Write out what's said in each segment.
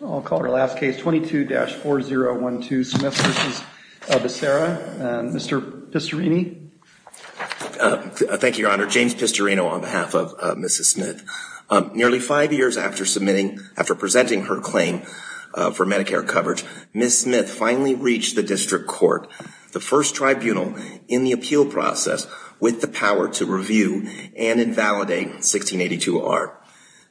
I'll call her last case 22-4012 Smith v. Becerra. Mr. Pistorino. Thank you, Your Honor. James Pistorino on behalf of Mrs. Smith. Nearly five years after submitting, after presenting her claim for Medicare coverage, Ms. Smith finally reached the District Court, the first tribunal in the appeal process with the power to review and invalidate 1682-R.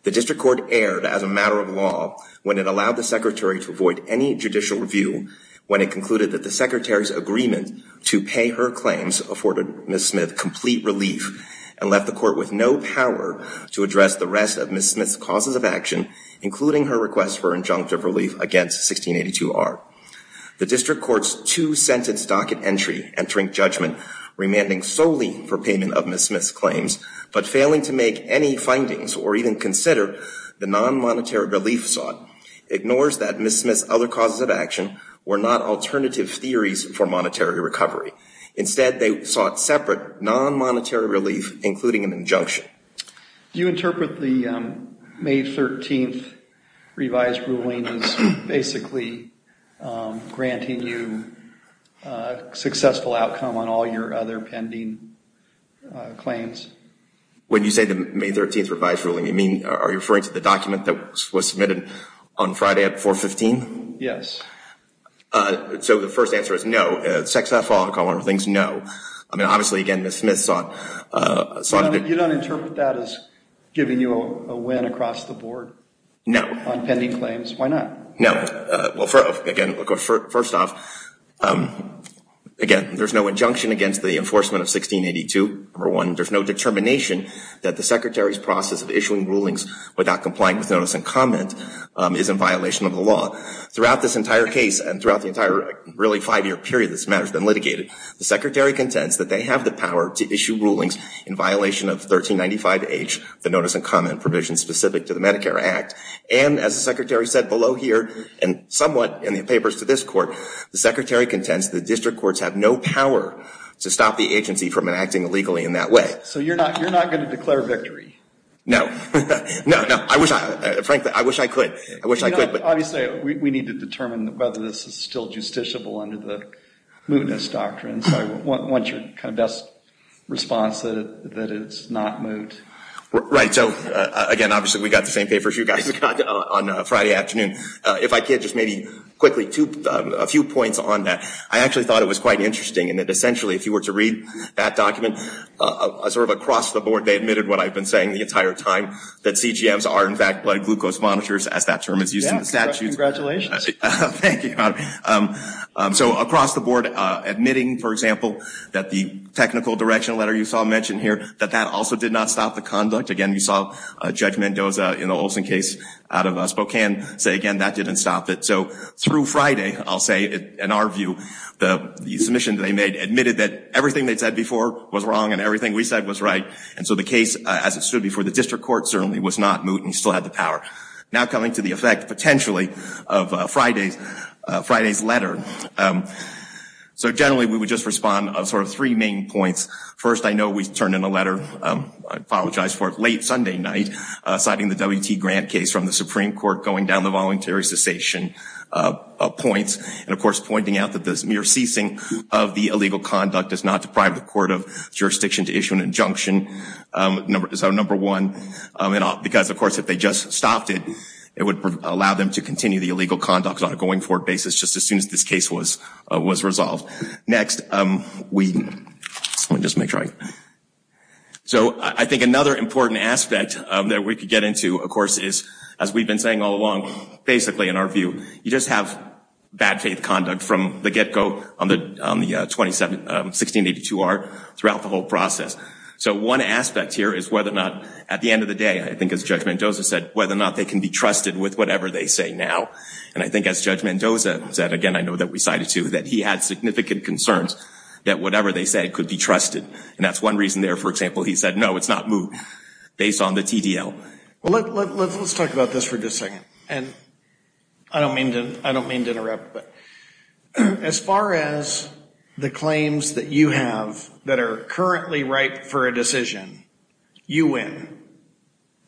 The District Court erred as a matter of law when it allowed the Secretary to avoid any judicial review when it concluded that the Secretary's agreement to pay her claims afforded Ms. Smith complete relief and left the Court with no power to address the rest of Ms. Smith's causes of action, including her request for injunctive relief against 1682-R. The District Court's two-sentence docket entry entering judgment remanding solely for payment of Ms. Smith's findings or even consider the non-monetary relief sought ignores that Ms. Smith's other causes of action were not alternative theories for monetary recovery. Instead, they sought separate non-monetary relief, including an injunction. Do you interpret the May 13th revised ruling as basically granting you a successful outcome on all your other pending claims? When you say the May 13th revised ruling, you mean, are you referring to the document that was submitted on Friday at 415? Yes. So the first answer is no. Sex off all common things? No. I mean, obviously, again, Ms. Smith sought. You don't interpret that as giving you a win across the board? No. On pending claims? Why not? No. Well, again, first off, again, there's no injunction against the enforcement of 1682. Number one, there's no determination that the Secretary's process of issuing rulings without complying with notice and comment is in violation of the law. Throughout this entire case and throughout the entire really five-year period this matter has been litigated, the Secretary contends that they have the power to issue rulings in violation of 1395H, the notice and comment provision specific to the Medicare Act. And as the Secretary said below here and somewhat in the papers to this Court, the Secretary contends the District Courts have no power to stop the agency from enacting illegally in that way. So you're not going to declare victory? No. No, no. I wish I could. Obviously, we need to determine whether this is still justiciable under the mootness doctrine. So I want your kind of best response that it's not moot. Right. So again, obviously, we got the same papers you guys got on Friday afternoon. If I thought it was quite interesting and essentially if you were to read that document, sort of across the board they admitted what I've been saying the entire time, that CGMs are in fact blood glucose monitors as that term is used in the statute. Congratulations. Thank you. So across the board admitting, for example, that the technical direction letter you saw mentioned here, that that also did not stop the conduct. Again, we saw Judge Mendoza in the Olson case out of Spokane say again that didn't stop it. So through Friday, I'll say in our view, the submission they made admitted that everything they said before was wrong and everything we said was right. And so the case as it stood before the District Court certainly was not moot and still had the power. Now coming to the effect potentially of Friday's Friday's letter. So generally we would just respond of sort of three main points. First, I know we turned in a letter, I apologize for it, late Sunday night citing the WT Grant case from the Supreme Court going down the voluntary cessation points and of course pointing out that this mere ceasing of the illegal conduct does not deprive the court of jurisdiction to issue an injunction. So number one, because of course if they just stopped it, it would allow them to continue the illegal conduct on a going forward basis just as soon as this case was resolved. Next, Whedon. So I think another important aspect that we could get into of as we've been saying all along, basically in our view, you just have bad faith conduct from the get-go on the 1682R throughout the whole process. So one aspect here is whether or not at the end of the day, I think as Judge Mendoza said, whether or not they can be trusted with whatever they say now. And I think as Judge Mendoza said, again I know that we cited too, that he had significant concerns that whatever they said could be trusted. And that's one reason there, for example, he said it's not moved based on the TDL. Let's talk about this for just a second. And I don't mean to interrupt, but as far as the claims that you have that are currently ripe for a decision, you win.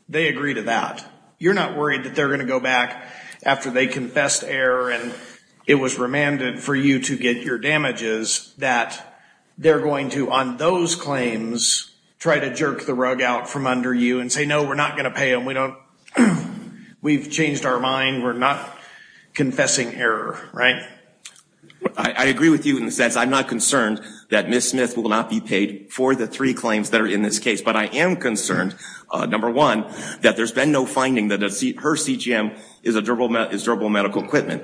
They agree to that. You're not worried that they're going to go back after they confessed error and it was remanded for you to get your damages, that they're going to on those claims try to jerk the rug out from under you and say, no, we're not going to pay them. We don't, we've changed our mind. We're not confessing error, right? I agree with you in the sense I'm not concerned that Ms. Smith will not be paid for the three claims that are in this case. But I am concerned, number one, that there's been no finding that her CGM is durable medical equipment.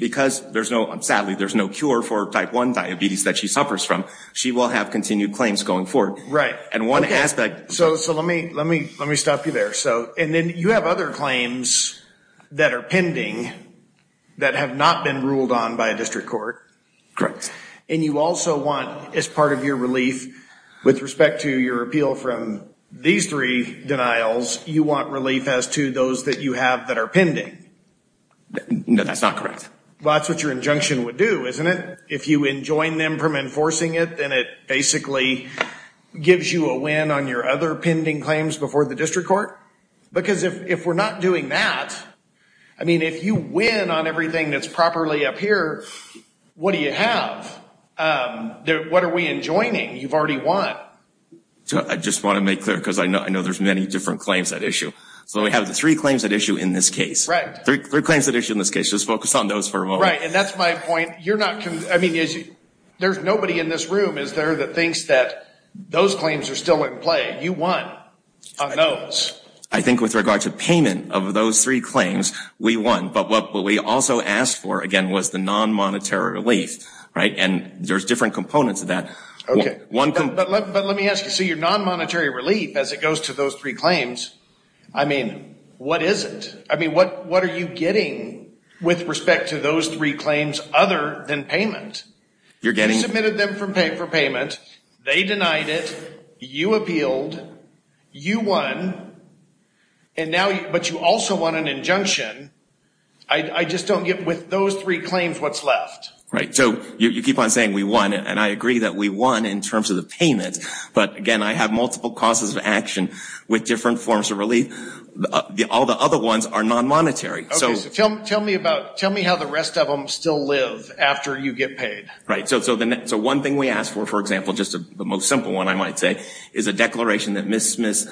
Because there's no, sadly, there's no cure for type 1 diabetes that she suffers from, she will have continued claims going forward. Right. And one aspect... So, so let me, let me, let me stop you there. So, and then you have other claims that are pending that have not been ruled on by a district court. Correct. And you also want as part of your relief with respect to your appeal from these three denials, you want relief as to those that you have that are pending. No, that's not correct. Well, that's what your injunction would do, isn't it? If you enjoin them from enforcing it, then it basically gives you a win on your other pending claims before the district court. Because if we're not doing that, I mean, if you win on everything that's properly up here, what do you have? What are we enjoining? You've already won. I just want to make clear, because I know there's many different claims at issue. So we have the three claims at issue in this case. Right. Three claims at issue in this case. Let's focus on those for a moment. Right. And that's my point. You're not, I mean, there's nobody in this room, is there, that thinks that those claims are still in play. You won on those. I think with regard to payment of those three claims, we won. But what we also asked for, again, was the non-monetary relief. Right. And there's different components of that. Okay. But let me ask you, so your non-monetary relief, as it goes to those three claims, I mean, what is it? I mean, what are you getting with respect to those three claims other than payment? You submitted them for payment. They denied it. You appealed. You won. And now, but you also won an injunction. I just don't get, with those three claims, what's left? Right. So you keep on saying we won. And I agree that we won in terms of the payment. But again, I have multiple causes of action with different forms of relief. All the other ones are non-monetary. Okay. So tell me how the rest of them still live after you get paid. Right. So one thing we asked for, for example, just the most simple one, I might say, is a declaration that Ms. Smith's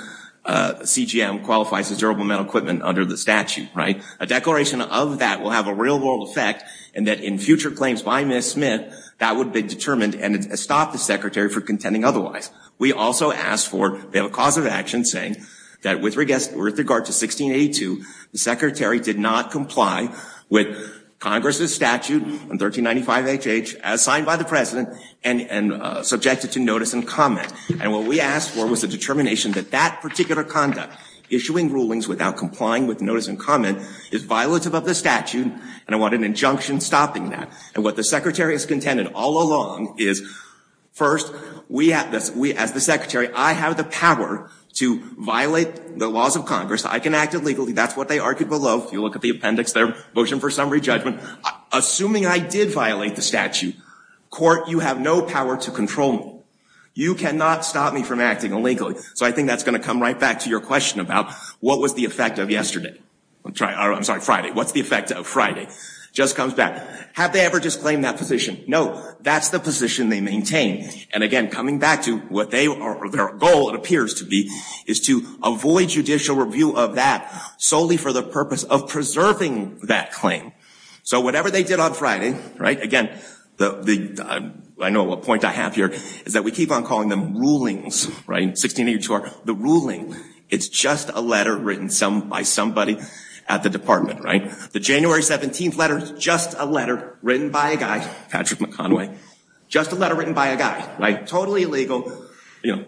CGM qualifies as durable metal equipment under the statute. Right. A declaration of that will have a real world effect and that in future claims by Ms. Smith, that would be determined and stop the Secretary from contending otherwise. We also asked for a cause of action saying that with regard to 1682, the Secretary did not comply with Congress's statute in 1395HH as signed by the President and subjected to notice and comment. And what we asked for was a determination that that particular conduct, issuing rulings without complying with notice and comment, is violative of the statute and I want an injunction stopping that. And what the Secretary has contended all along is first, we as the Secretary, I have the power to violate the laws of Congress. I can act illegally. That's what they argued below. If you look at the appendix there, motion for summary judgment. Assuming I did violate the statute, court, you have no power to control me. You cannot stop me from acting illegally. So I think that's going to come right back to your question about what was the effect of just comes back. Have they ever disclaimed that position? No. That's the position they maintain. And again, coming back to what their goal, it appears to be, is to avoid judicial review of that solely for the purpose of preserving that claim. So whatever they did on Friday, right, again, I know what point I have here, is that we keep on calling them rulings, right, 1682R, the ruling. It's just a letter written by somebody at the department, right. The January 17th letter, just a letter written by a guy, Patrick McConway, just a letter written by a guy, right, totally illegal.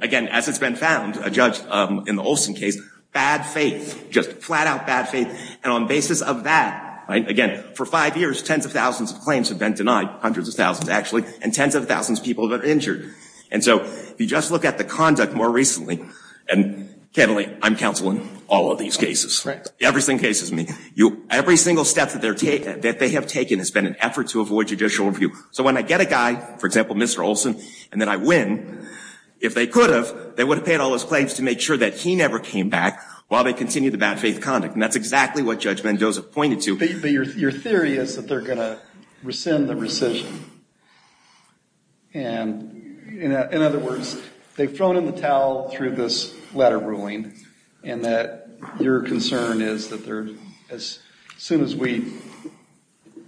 Again, as it's been found, a judge in the Olson case, bad faith, just flat out bad faith. And on basis of that, again, for five years, tens of thousands of claims have been denied, hundreds of thousands actually, and tens of thousands of people have been injured. And so if you just look at the conduct more recently, and can't believe I'm counseling all of these cases, every single case is me, every single step that they have taken has been an effort to avoid judicial review. So when I get a guy, for example, Mr. Olson, and then I win, if they could have, they would have paid all those claims to make sure that he never came back while they continued the bad faith conduct. And that's exactly what Judge Mendoza pointed to. Your theory is that they're going to rescind the rescission. And in other words, they've thrown in the towel through this letter ruling, and that your concern is that they're, as soon as we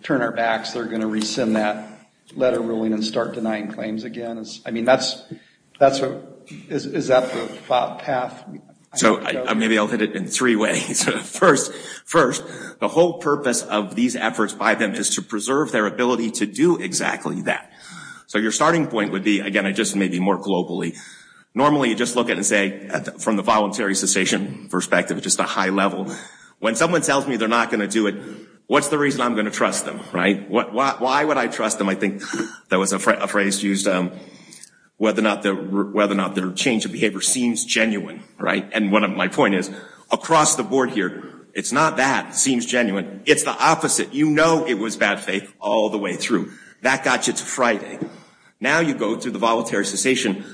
turn our backs, they're going to rescind that letter ruling and start denying claims again. I mean, that's what, is that the path? So maybe I'll hit it in three ways. First, the whole purpose of these efforts by them is to preserve their ability to do exactly that. So your starting point would be, again, I just maybe more globally, normally you just look at and say, from the voluntary cessation perspective, just a high level. When someone tells me they're not going to do it, what's the reason I'm going to trust them, right? Why would I trust them? I think that was a phrase used, whether or not their change of behavior seems genuine, right? And one of my point is, across the board here, it's not that seems genuine, it's the opposite. You know it was bad faith all the way through. That got you to Friday. Now you go through the voluntary cessation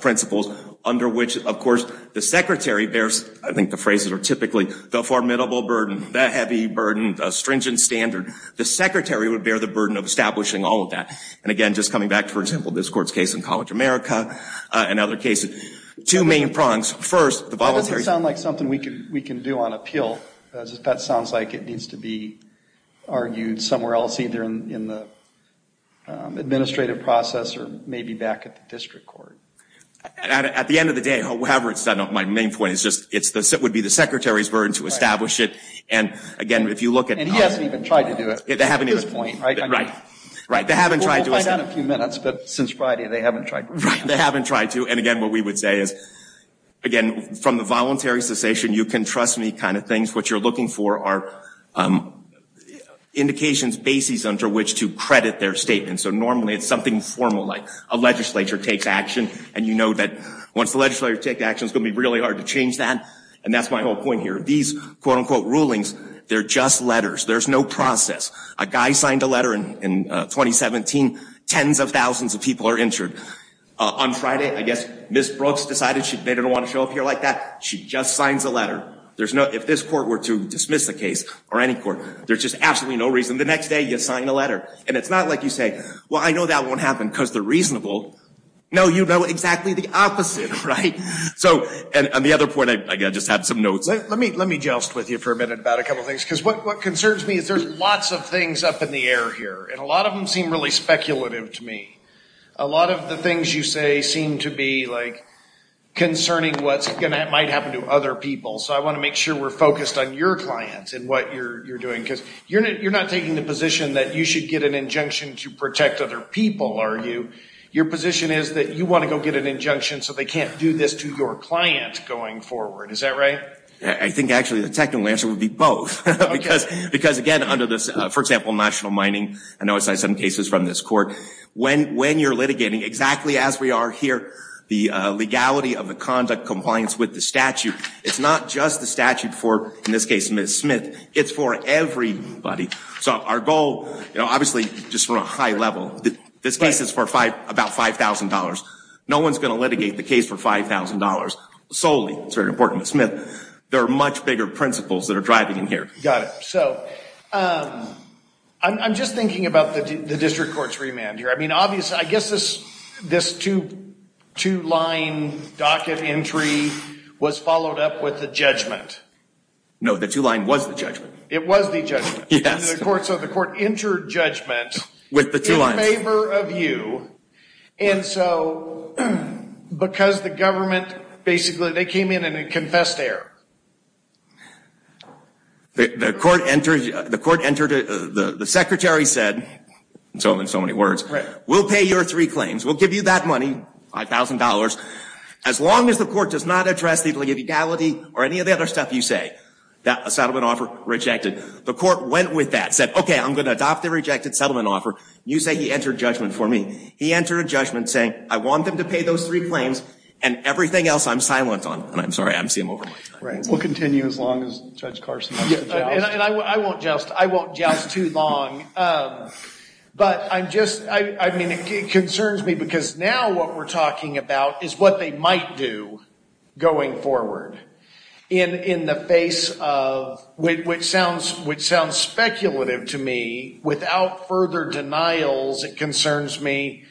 principles under which, of course, the secretary bears, I think the phrases are typically, the formidable burden, the heavy burden, the stringent standard. The secretary would bear the burden of establishing all of that. And again, just coming back to, for example, this court's case in College America, and other cases, two main prongs. First, the voluntary cessation. That doesn't sound like something we can do on appeal. That sounds like it needs to be argued somewhere else, either in the administrative process or maybe back at the district court. At the end of the day, however, it's not my main point. It's just, it would be the secretary's burden to establish it. And again, if you look at. And he hasn't even tried to do it. They haven't even. Right. Right. They haven't tried to. We'll find out in a few minutes, but since Friday, they haven't tried. They haven't tried to. And again, what we would say is, again, from the voluntary cessation, you can trust me kind of things. What you're looking for are indications, bases under which to credit their statement. So normally, it's something formal, like a legislature takes action. And you know that once the legislature takes action, it's going to be really hard to change that. And that's my whole point here. These quote unquote rulings, they're just letters. There's no process. A guy signed a letter in 2017, tens of thousands of people are injured. On Friday, I guess Ms. Brooks decided they didn't want to show up here like that. She just signs a letter. There's no, if this court were to dismiss the case or any court, there's just absolutely no reason. The next day, you sign a letter. And it's not like you say, well, I know that won't happen because they're reasonable. No, you know exactly the opposite. Right. So and the other point, I just had some notes. Let me joust with you for a minute about a couple things. Because what concerns me is there's lots of things up in the air here. And a lot of them seem really speculative to me. A lot of the things you say seem to be like concerning what's going to, might happen to other people. So I want to make sure we're focused on your clients and what you're doing. Because you're not taking the position that you should get an injunction to protect other people, are you? Your position is that you want to go get an injunction so they can't do this to your client going forward. Is that right? I think, actually, the technical answer would be both. Because, again, under this, for example, national mining, I know I cited some cases from this court. When you're litigating, exactly as we are here, the legality of the conduct compliance with the statute, it's not just the statute for, in this case, Ms. Smith. It's for everybody. So our goal, obviously, just from a high level, this case is for about $5,000. No one's going to litigate the case for $5,000 solely. It's very important to Smith. There are much bigger principles that are driving in here. Got it. So I'm just thinking about the district court's remand here. I mean, obviously, I guess this two-line docket entry was followed up with the judgment. No, the two-line was the judgment. It was the judgment. Yes. So the court entered judgment with the two lines. In favor of you. And so, because the government, basically, they came in and confessed error. The court entered, the secretary said, so in so many words, we'll pay your three claims. We'll give you that money, $5,000, as long as the court does not address the legality or any of the other stuff you say, that a settlement offer rejected. The court went with that, said, OK, I'm going to adopt the offer. You say he entered judgment for me. He entered a judgment saying, I want them to pay those three claims and everything else I'm silent on. And I'm sorry, I'm seeing them over my time. Right. We'll continue as long as Judge Carson has to joust. And I won't joust. I won't joust too long. But I'm just, I mean, it concerns me because now what we're talking about is what they might do going forward in the face of, which sounds speculative to me. Without further denials, it concerns me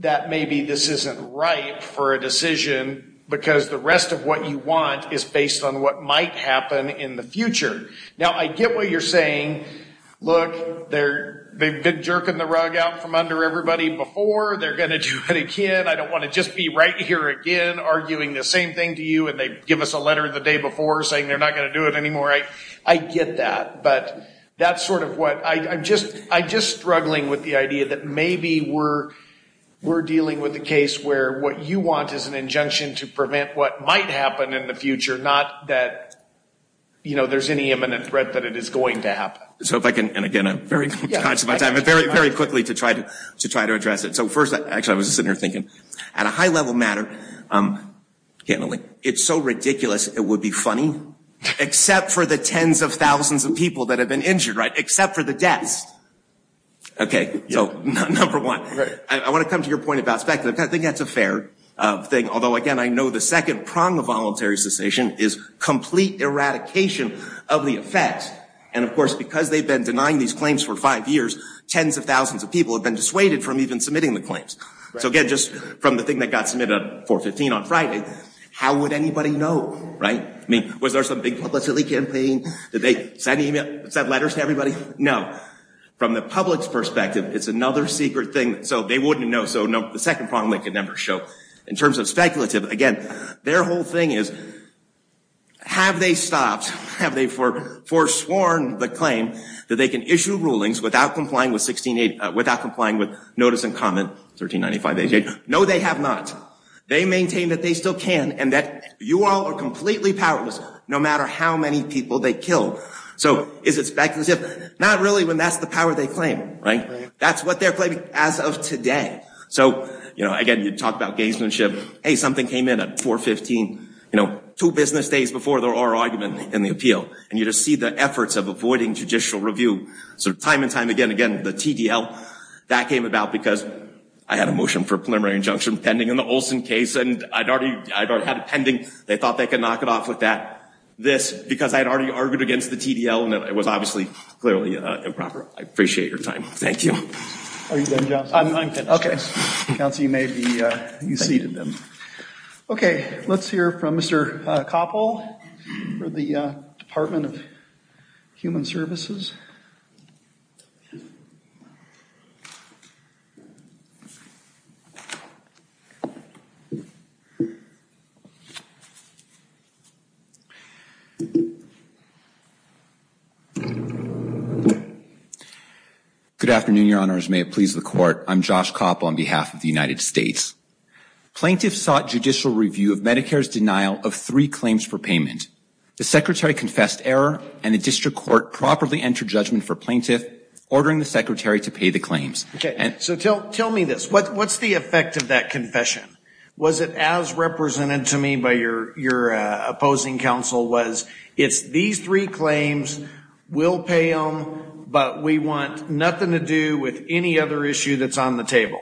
that maybe this isn't right for a decision because the rest of what you want is based on what might happen in the future. Now, I get what you're saying. Look, they're, they've been jerking the rug out from under everybody before. They're going to do it again. I don't want to just be right here again, arguing the same thing to you. And they give us a letter the day before saying they're not going to do it anymore. I get that. But that's sort of what I, I'm just, I'm just struggling with the idea that maybe we're, we're dealing with a case where what you want is an injunction to prevent what might happen in the future, not that, you know, there's any imminent threat that it is going to happen. So if I can, and again, I'm very conscious of my time, but very, very quickly to try to, to try to address it. So first, actually, I was just sitting here thinking at a high level matter, can only, it's so ridiculous. It would be funny, except for the tens of thousands of people that have been injured, right? Except for the deaths. Okay. So number one, I want to come to your point about speculative. I think that's a fair thing. Although again, I know the second prong of voluntary cessation is complete eradication of the effects. And of course, because they've been denying these claims for five years, tens of thousands of people have been dissuaded from even submitting the claims. So again, just from the thing that got submitted on 415 on Friday, how would anybody know, right? I mean, was there some big publicity campaign? Did they send email, send letters to everybody? No. From the public's perspective, it's another secret thing. So they wouldn't know. So no, the second prong they could never show. In terms of speculative, again, their whole thing is, have they stopped? Have they for, forsworn the claim that they can issue rulings without complying with notice and comment 1395-88? No, they have not. They maintain that they still can and that you all are completely powerless, no matter how many people they kill. So is it speculative? Not really when that's the power they claim, right? That's what they're claiming as of today. So, you know, again, you talk about gazemanship. Hey, something came in at 415, you know, two business days before the oral argument in the appeal. And you just see the that came about because I had a motion for preliminary injunction pending in the Olson case, and I'd already, I'd already had it pending. They thought they could knock it off with that. This, because I had already argued against the TDL and it was obviously clearly improper. I appreciate your time. Thank you. Are you done, John? I'm done. Okay. Council, you may be, you seated them. Okay. Let's hear from Mr. Koppel for the Department of Human Services. Good afternoon, your honors. May it please the court. I'm Josh Koppel on behalf of the United States. Plaintiffs sought judicial review of Medicare's denial of three claims for payment. The secretary confessed error and the district court properly entered judgment for plaintiff, ordering the secretary to pay the claims. Okay. So tell me this. What's the effect of that confession? Was it as represented to me by your opposing counsel was it's these three claims, we'll pay them, but we want nothing to do with any other issue that's on the table.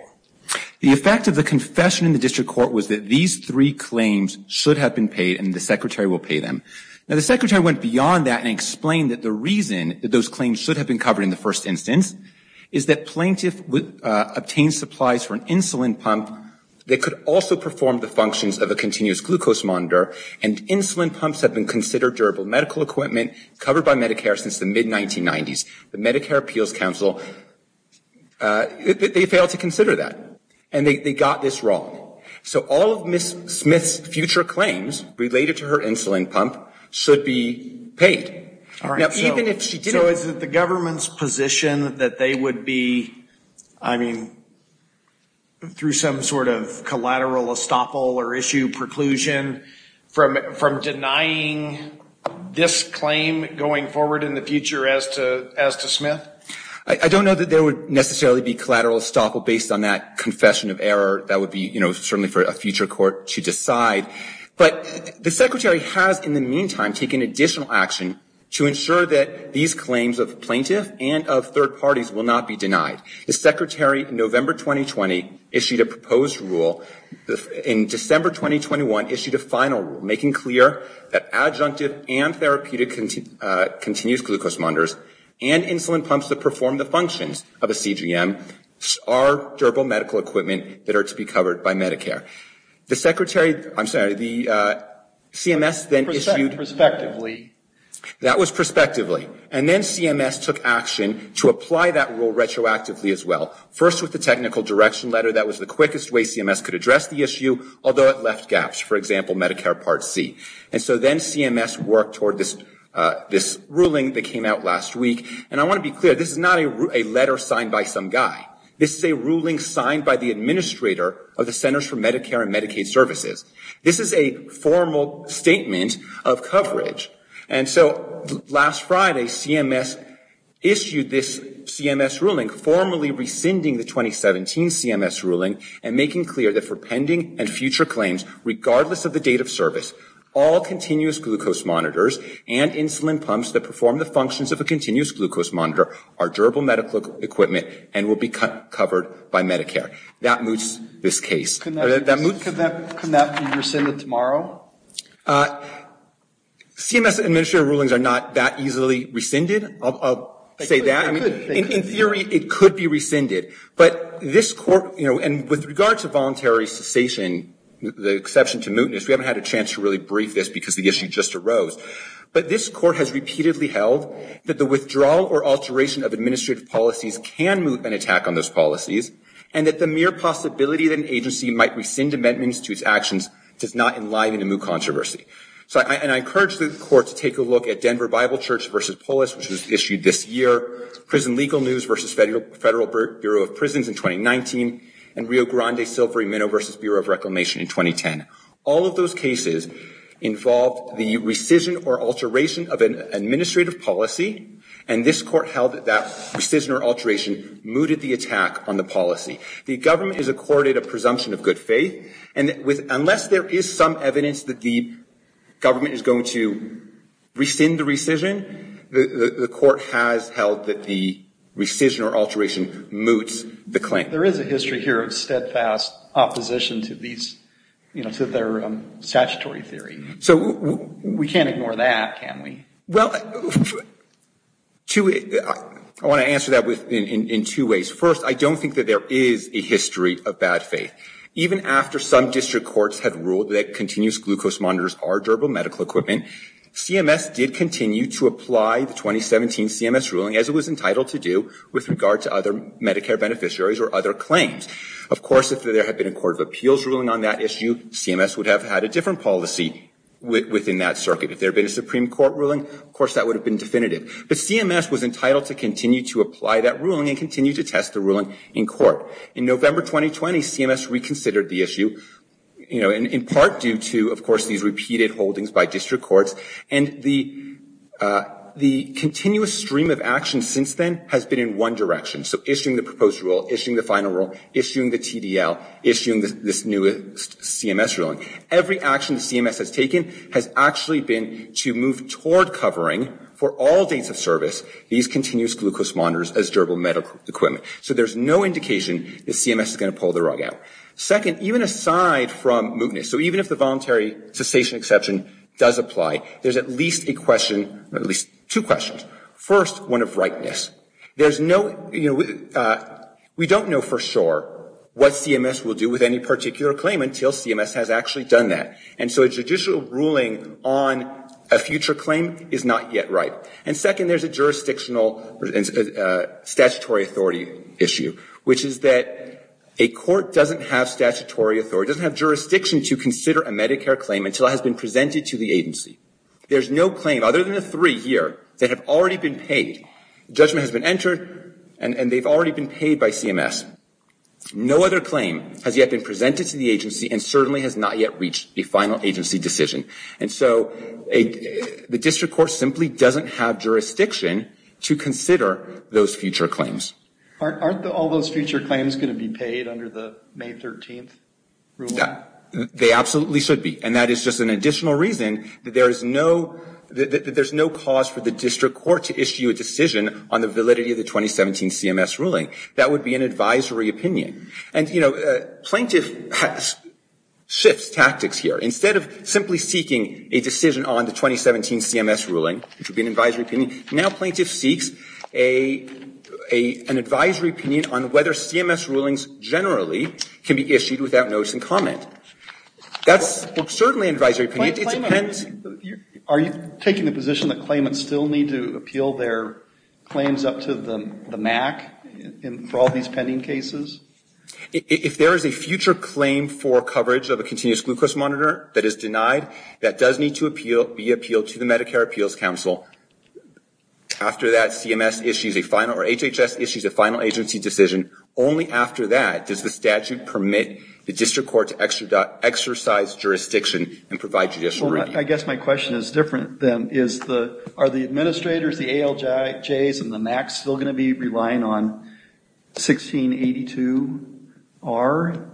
The effect of the confession in the district court was that these three claims should have been paid and the secretary will pay them. Now, the secretary went beyond that and explained that the reason those claims should have been covered in the first instance is that plaintiff would obtain supplies for an insulin pump that could also perform the functions of a continuous glucose monitor and insulin pumps have been considered durable medical equipment covered by Medicare since the mid 1990s. The Medicare appeals council, they failed to consider that and they got this wrong. So all of Ms. Smith's future claims related to her insulin pump should be paid. All right. So is it the government's position that they would be, I mean, through some sort of collateral estoppel or issue preclusion from denying this claim going forward in the future as to Smith? I don't know that there would necessarily be collateral estoppel based on that confession of error. That would be, you know, certainly for a future court to decide, but the secretary has in the meantime taken additional action to ensure that these claims of plaintiff and of third parties will not be denied. The secretary in November 2020 issued a proposed rule in December 2021 issued a final rule making clear that adjunctive and therapeutic continuous glucose monitors and insulin pumps that perform the functions of a CGM are durable equipment that are to be covered by Medicare. The secretary, I'm sorry, the CMS then issued that was prospectively. And then CMS took action to apply that rule retroactively as well. First with the technical direction letter, that was the quickest way CMS could address the issue, although it left gaps, for example, Medicare part C. And so then CMS worked toward this ruling that came out last week. And I want to be clear, this is not a letter signed by some guy. This is a administrator of the Centers for Medicare and Medicaid Services. This is a formal statement of coverage. And so last Friday CMS issued this CMS ruling formally rescinding the 2017 CMS ruling and making clear that for pending and future claims, regardless of the date of service, all continuous glucose monitors and insulin pumps that perform the functions of a continuous monitor are durable medical equipment and will be covered by Medicare. That moots this case. Can that be rescinded tomorrow? CMS administrator rulings are not that easily rescinded. I'll say that. In theory, it could be rescinded. But this court, you know, and with regard to voluntary cessation, the exception to mootness, we haven't had a chance to really brief this because the issue just or alteration of administrative policies can moot an attack on those policies, and that the mere possibility that an agency might rescind amendments to its actions does not enliven the moot controversy. And I encourage the court to take a look at Denver Bible Church v. Polis, which was issued this year, Prison Legal News v. Federal Bureau of Prisons in 2019, and Rio Grande Silvery Minnow v. Bureau of Reclamation in 2010. All of those cases involved the rescission or alteration of an administrative policy, and this court held that that rescission or alteration mooted the attack on the policy. The government has accorded a presumption of good faith, and unless there is some evidence that the government is going to rescind the rescission, the court has held that the rescission or alteration moots the claim. There is a history here of steadfast opposition to their statutory theory. So we can't ignore that, can we? Well, I want to answer that in two ways. First, I don't think that there is a history of bad faith. Even after some district courts had ruled that continuous glucose monitors are durable medical equipment, CMS did continue to apply the 2017 CMS ruling, as it was entitled to do, with regard to other Medicare beneficiaries or other claims. Of course, if there had been a court of appeals ruling on that issue, CMS would have had a different policy within that circuit. If there had been a Supreme Court ruling, of course, that would have been definitive. But CMS was entitled to continue to apply that ruling and continue to test the ruling in court. In November 2020, CMS reconsidered the issue, you know, in part due to, of course, these repeated issuing the proposed rule, issuing the final rule, issuing the TDL, issuing this newest CMS ruling. Every action CMS has taken has actually been to move toward covering, for all dates of service, these continuous glucose monitors as durable medical equipment. So there's no indication that CMS is going to pull the rug out. Second, even aside from mootness, so even if the voluntary cessation exception does apply, there's at least a question, at least two questions. First, one of rightness. There's no, you know, we don't know for sure what CMS will do with any particular claim until CMS has actually done that. And so a judicial ruling on a future claim is not yet right. And second, there's a jurisdictional statutory authority issue, which is that a court doesn't have statutory authority, doesn't have jurisdiction to consider a Medicare claim until it has been presented to the agency. There's no claim, other than the three here, that have already been paid. Judgment has been entered, and they've already been paid by CMS. No other claim has yet been presented to the agency and certainly has not yet reached a final agency decision. And so the district court simply doesn't have jurisdiction to consider those future claims. Aren't all those future claims going to be paid under the May 13th ruling? They absolutely should be. And that is just an additional reason that there is no cause for the district court to issue a decision on the validity of the 2017 CMS ruling. That would be an advisory opinion. And, you know, plaintiff shifts tactics here. Instead of simply seeking a decision on the 2017 CMS ruling, which would be an advisory opinion, now plaintiff seeks an advisory opinion on whether CMS rulings generally can be issued without notice and comment. That's certainly an advisory opinion. Are you taking the position that claimants still need to appeal their claims up to the MAC for all these pending cases? If there is a future claim for coverage of a continuous glucose monitor that is denied, that does need to be appealed to the Medicare Appeals Council. After that, CMS issues a final or HHS issues a final agency decision. Only after that does the statute permit the district court to exercise jurisdiction and provide judicial review. I guess my question is different then. Are the administrators, the ALJs, and the MACs still going to be relying on 1682-R?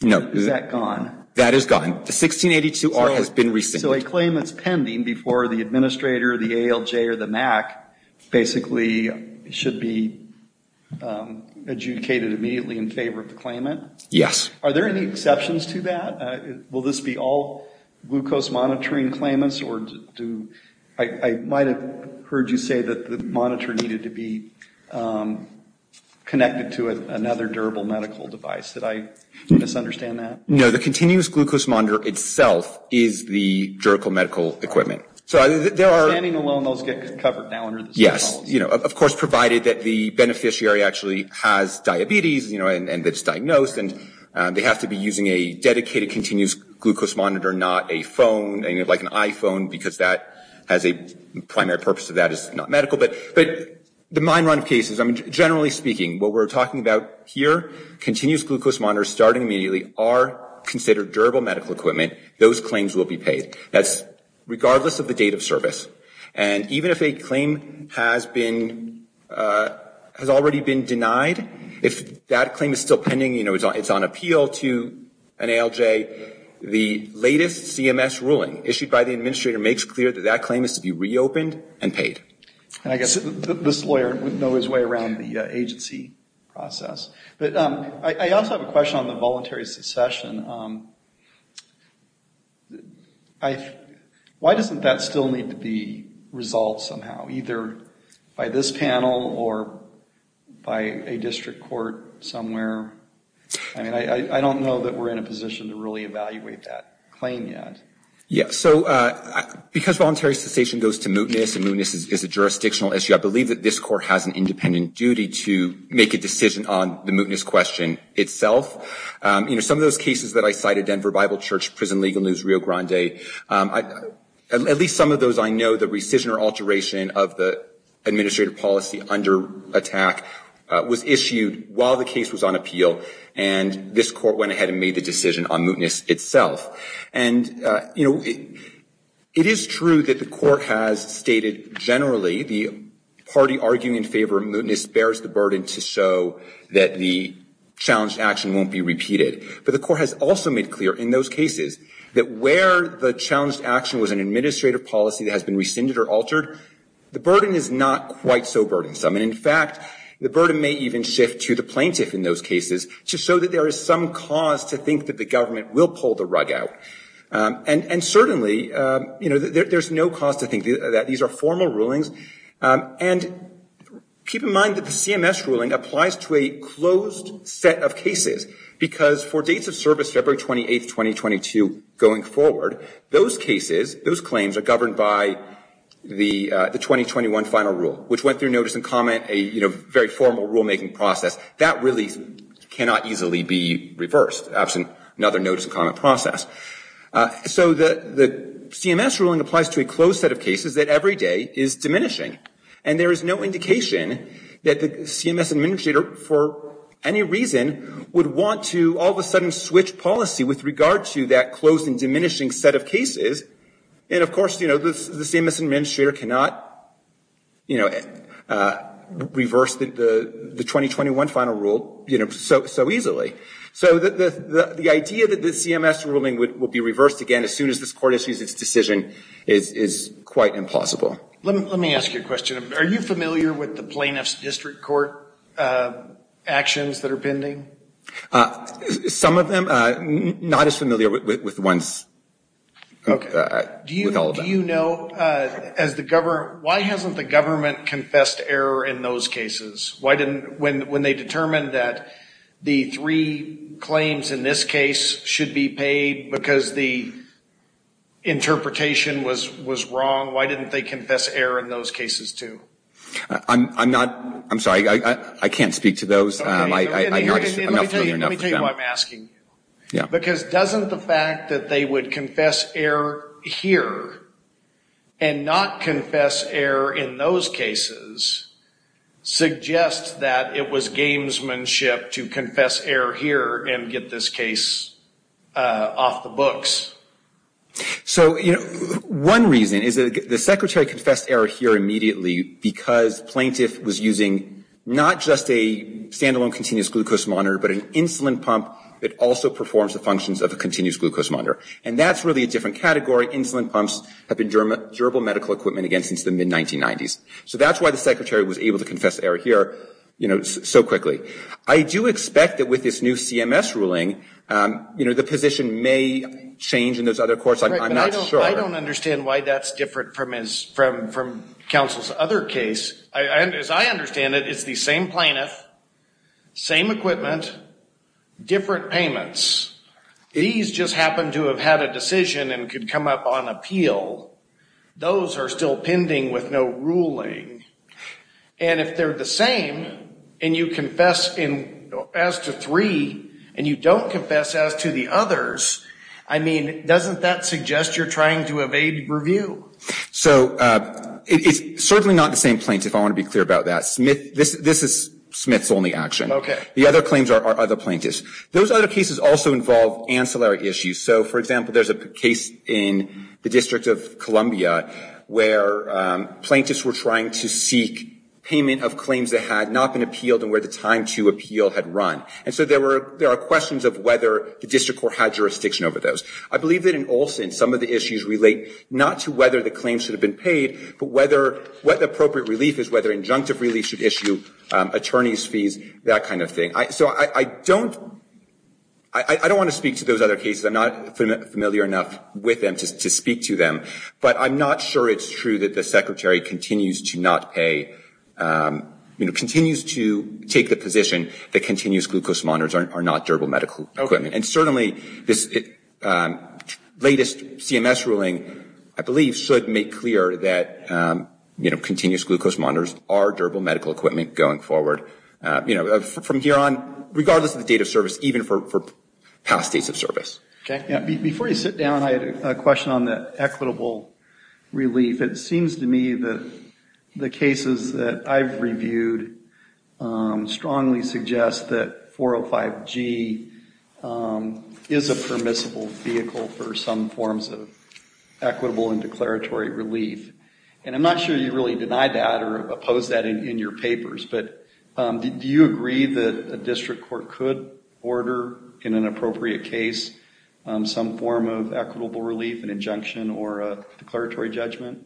No. Is that gone? That is gone. The 1682-R has been rescinded. So a claim that's pending before the administrator, the ALJ, or the MAC basically should be adjudicated immediately in favor of the claimant? Yes. Are there any exceptions to that? Will this be all glucose monitoring claimants? I might have heard you say that the monitor needed to be connected to another durable medical device. Did I misunderstand that? No, the continuous glucose monitor itself is the Yes, of course, provided that the beneficiary actually has diabetes and is diagnosed and they have to be using a dedicated continuous glucose monitor, not a phone, like an iPhone, because the primary purpose of that is not medical. But the mine run cases, generally speaking, what we're talking about here, continuous glucose monitors starting immediately are considered durable medical equipment. Those claims will be paid. That's regardless of the date of service. And even if a claim has been, has already been denied, if that claim is still pending, you know, it's on appeal to an ALJ, the latest CMS ruling issued by the administrator makes clear that that claim is to be reopened and paid. And I guess this lawyer would know his way around the agency process. But I also have a question on the voluntary succession. I, why doesn't that still need to be resolved somehow, either by this panel or by a district court somewhere? I mean, I don't know that we're in a position to really evaluate that claim yet. Yeah, so because voluntary succession goes to mootness and mootness is a jurisdictional issue, I believe that this court has an independent duty to make a decision on the mootness question itself. You know, some of those cases, that I cited, Denver Bible Church, Prison Legal News, Rio Grande, at least some of those I know, the rescission or alteration of the administrative policy under attack was issued while the case was on appeal. And this court went ahead and made the decision on mootness itself. And, you know, it is true that the court has stated generally the party arguing in favor of mootness bears the burden to show that the challenged action won't be repeated. But the court has also made clear in those cases that where the challenged action was an administrative policy that has been rescinded or altered, the burden is not quite so burdensome. And in fact, the burden may even shift to the plaintiff in those cases to show that there is some cause to think that the government will pull the rug out. And certainly, you know, there's no cause to think that these are formal rulings. And keep in mind that the CMS ruling applies to a closed set of cases because for dates of service February 28, 2022 going forward, those cases, those claims are governed by the 2021 final rule, which went through notice and comment, a very formal rulemaking process. That really cannot easily be reversed absent another notice and comment process. So the CMS ruling applies to a closed set of cases that every day is diminishing. And there is no indication that the CMS administrator for any reason would want to all of a sudden switch policy with regard to that closed and diminishing set of cases. And of course, you know, the CMS administrator cannot, you know, reverse the 2021 final rule, you know, so easily. So the idea that the CMS ruling would be reversed again as soon as this court issues its decision is quite impossible. Let me ask you a question. Are you familiar with the plaintiff's district court actions that are pending? Some of them. Not as familiar with ones. Okay. Do you know, as the government, why hasn't the government confessed error in those cases? When they determined that the three claims in this case should be paid because the interpretation was wrong, why didn't they confess error in those cases too? I'm not, I'm sorry, I can't speak to those. Let me tell you why I'm asking you. Because doesn't the fact that they would confess error here and not confess error in those cases suggest that it was gamesmanship to confess error here and get this case off the books? So, you know, one reason is that the secretary confessed error here immediately because plaintiff was using not just a standalone continuous glucose monitor, but an insulin pump that also insulin pumps have been durable medical equipment again since the mid-1990s. So that's why the secretary was able to confess error here, you know, so quickly. I do expect that with this new CMS ruling, you know, the position may change in those other courts. I'm not sure. I don't understand why that's different from counsel's other case. As I understand it, it's the same plaintiff, same equipment, different payments. These just happen to have had a decision and could come up on appeal. Those are still pending with no ruling. And if they're the same and you confess as to three and you don't confess as to the others, I mean, doesn't that suggest you're trying to evade review? So it's certainly not the same plaintiff, I want to be clear about that. This is Smith's only action. Okay. The other claims are other plaintiffs. Those other cases also involve ancillary issues. So, for example, there's a case in the District of Columbia where plaintiffs were trying to seek payment of claims that had not been appealed and where the time to appeal had run. And so there are questions of whether the district court had jurisdiction over those. I believe that in all sense, some of the issues relate not to whether the claims should have been paid, but what the appropriate relief is, whether injunctive relief should issue attorneys' fees, that kind of thing. So I don't want to speak to those other cases. I'm not familiar enough with them to speak to them. But I'm not sure it's true that the Secretary continues to not pay, you know, continues to take the position that continuous glucose monitors are not durable medical equipment. And certainly this latest CMS ruling, I believe, should make clear that, you know, continuous regardless of the date of service, even for past states of service. Okay. Before you sit down, I had a question on the equitable relief. It seems to me that the cases that I've reviewed strongly suggest that 405G is a permissible vehicle for some forms of equitable and declaratory relief. And I'm not sure you really deny that or oppose that in your papers, but do you agree that a district court could order in an appropriate case some form of equitable relief, an injunction, or a declaratory judgment?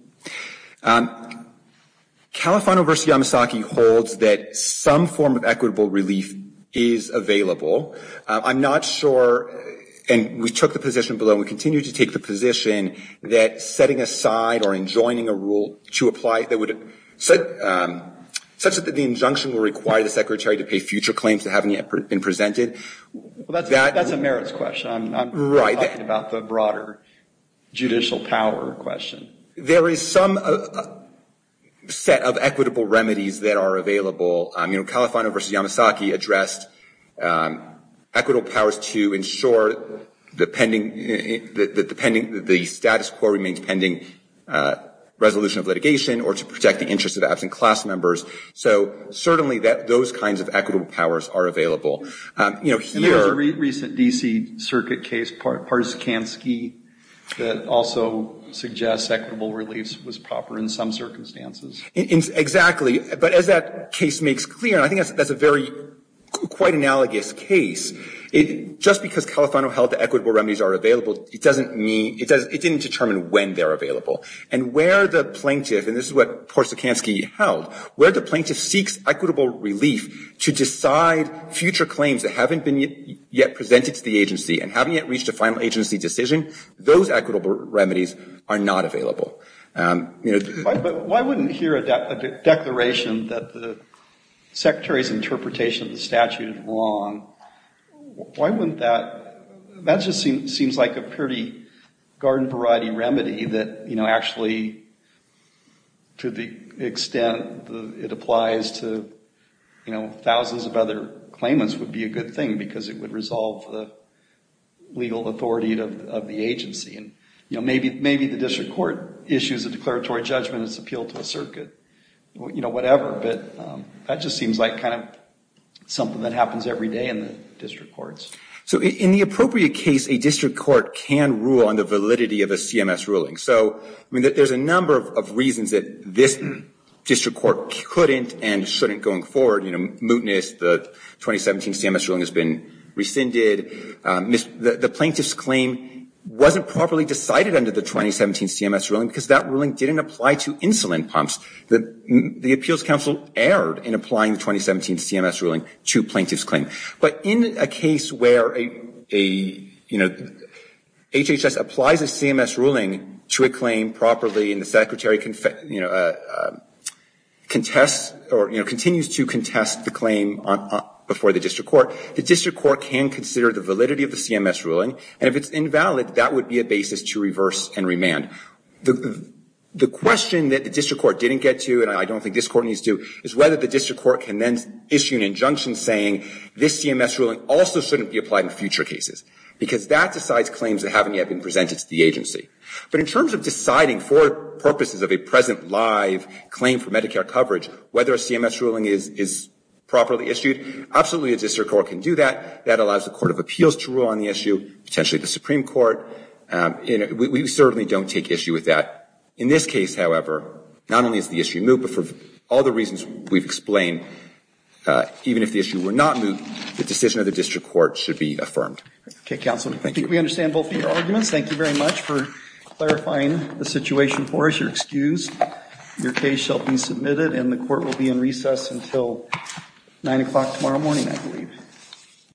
Califano v. Yamasaki holds that some form of equitable relief is available. I'm not sure, and we took the position below, we continue to take the position that setting aside or enjoining a rule to apply that would set such that the injunction will require the secretary to pay future claims that haven't been presented. That's a merits question. I'm talking about the broader judicial power question. There is some set of equitable remedies that are available. You know, Califano v. Yamasaki addressed equitable powers to ensure the status quo remains pending resolution of litigation or to protect the interest of absent class members. So certainly those kinds of equitable powers are available. And there was a recent D.C. Circuit case, Parsikansky, that also suggests equitable relief was proper in some circumstances. Exactly. But as that case makes clear, and I think that's a very, quite analogous case, just because Califano held that equitable remedies are available, it doesn't mean, it didn't determine when they're available. And where the plaintiff, and this is what Parsikansky held, where the plaintiff seeks equitable relief to decide future claims that haven't been yet presented to the agency and haven't yet reached a final agency decision, those equitable remedies are not available. But why wouldn't here a declaration that the secretary's interpretation of the statute is wrong, why wouldn't that, that just seems like a pretty garden variety remedy that, you know, actually, to the extent it applies to, you know, thousands of other claimants, would be a good thing because it would resolve the legal authority of the agency. And, you know, maybe the district court issues a declaratory judgment, it's appealed to a circuit, you know, whatever. But that just seems like kind of something that happens every day in the district courts. So in the appropriate case, a district court can rule on the validity of a CMS ruling. So, I mean, there's a number of reasons that this district court couldn't and shouldn't going forward, you know, mootness, the 2017 CMS ruling has been rescinded. The plaintiff's claim wasn't properly decided under the 2017 CMS ruling because that ruling didn't apply to insulin pumps. The appeals counsel erred in applying the 2017 CMS ruling to plaintiff's claim. But in a case where a, you know, HHS applies a CMS ruling to a claim properly, and the secretary, you know, contests or, you know, continues to contest the claim before the district court, the district court can consider the validity of the CMS ruling. And if it's invalid, that would be a basis to reverse and remand. The question that the district court didn't get to, and I don't think this court needs to, is whether the district court can then issue an injunction saying, this CMS ruling also shouldn't be applied in future cases. Because that decides claims that haven't yet been presented to the agency. But in terms of deciding for purposes of a present live claim for Medicare coverage, whether a CMS ruling is properly issued, absolutely a district court can do that. That allows the court of appeals to rule on the issue, potentially the Supreme Court. We certainly don't take issue with that. In this case, however, not only is the issue moot, but for all the reasons we've explained, even if the issue were not moot, the decision of the district court should be affirmed. Okay, counsel. Thank you. We understand both of your arguments. Thank you very much for clarifying the situation for us. You're excused. Your case shall be submitted and the court will be in recess until 9 o'clock tomorrow morning, I believe.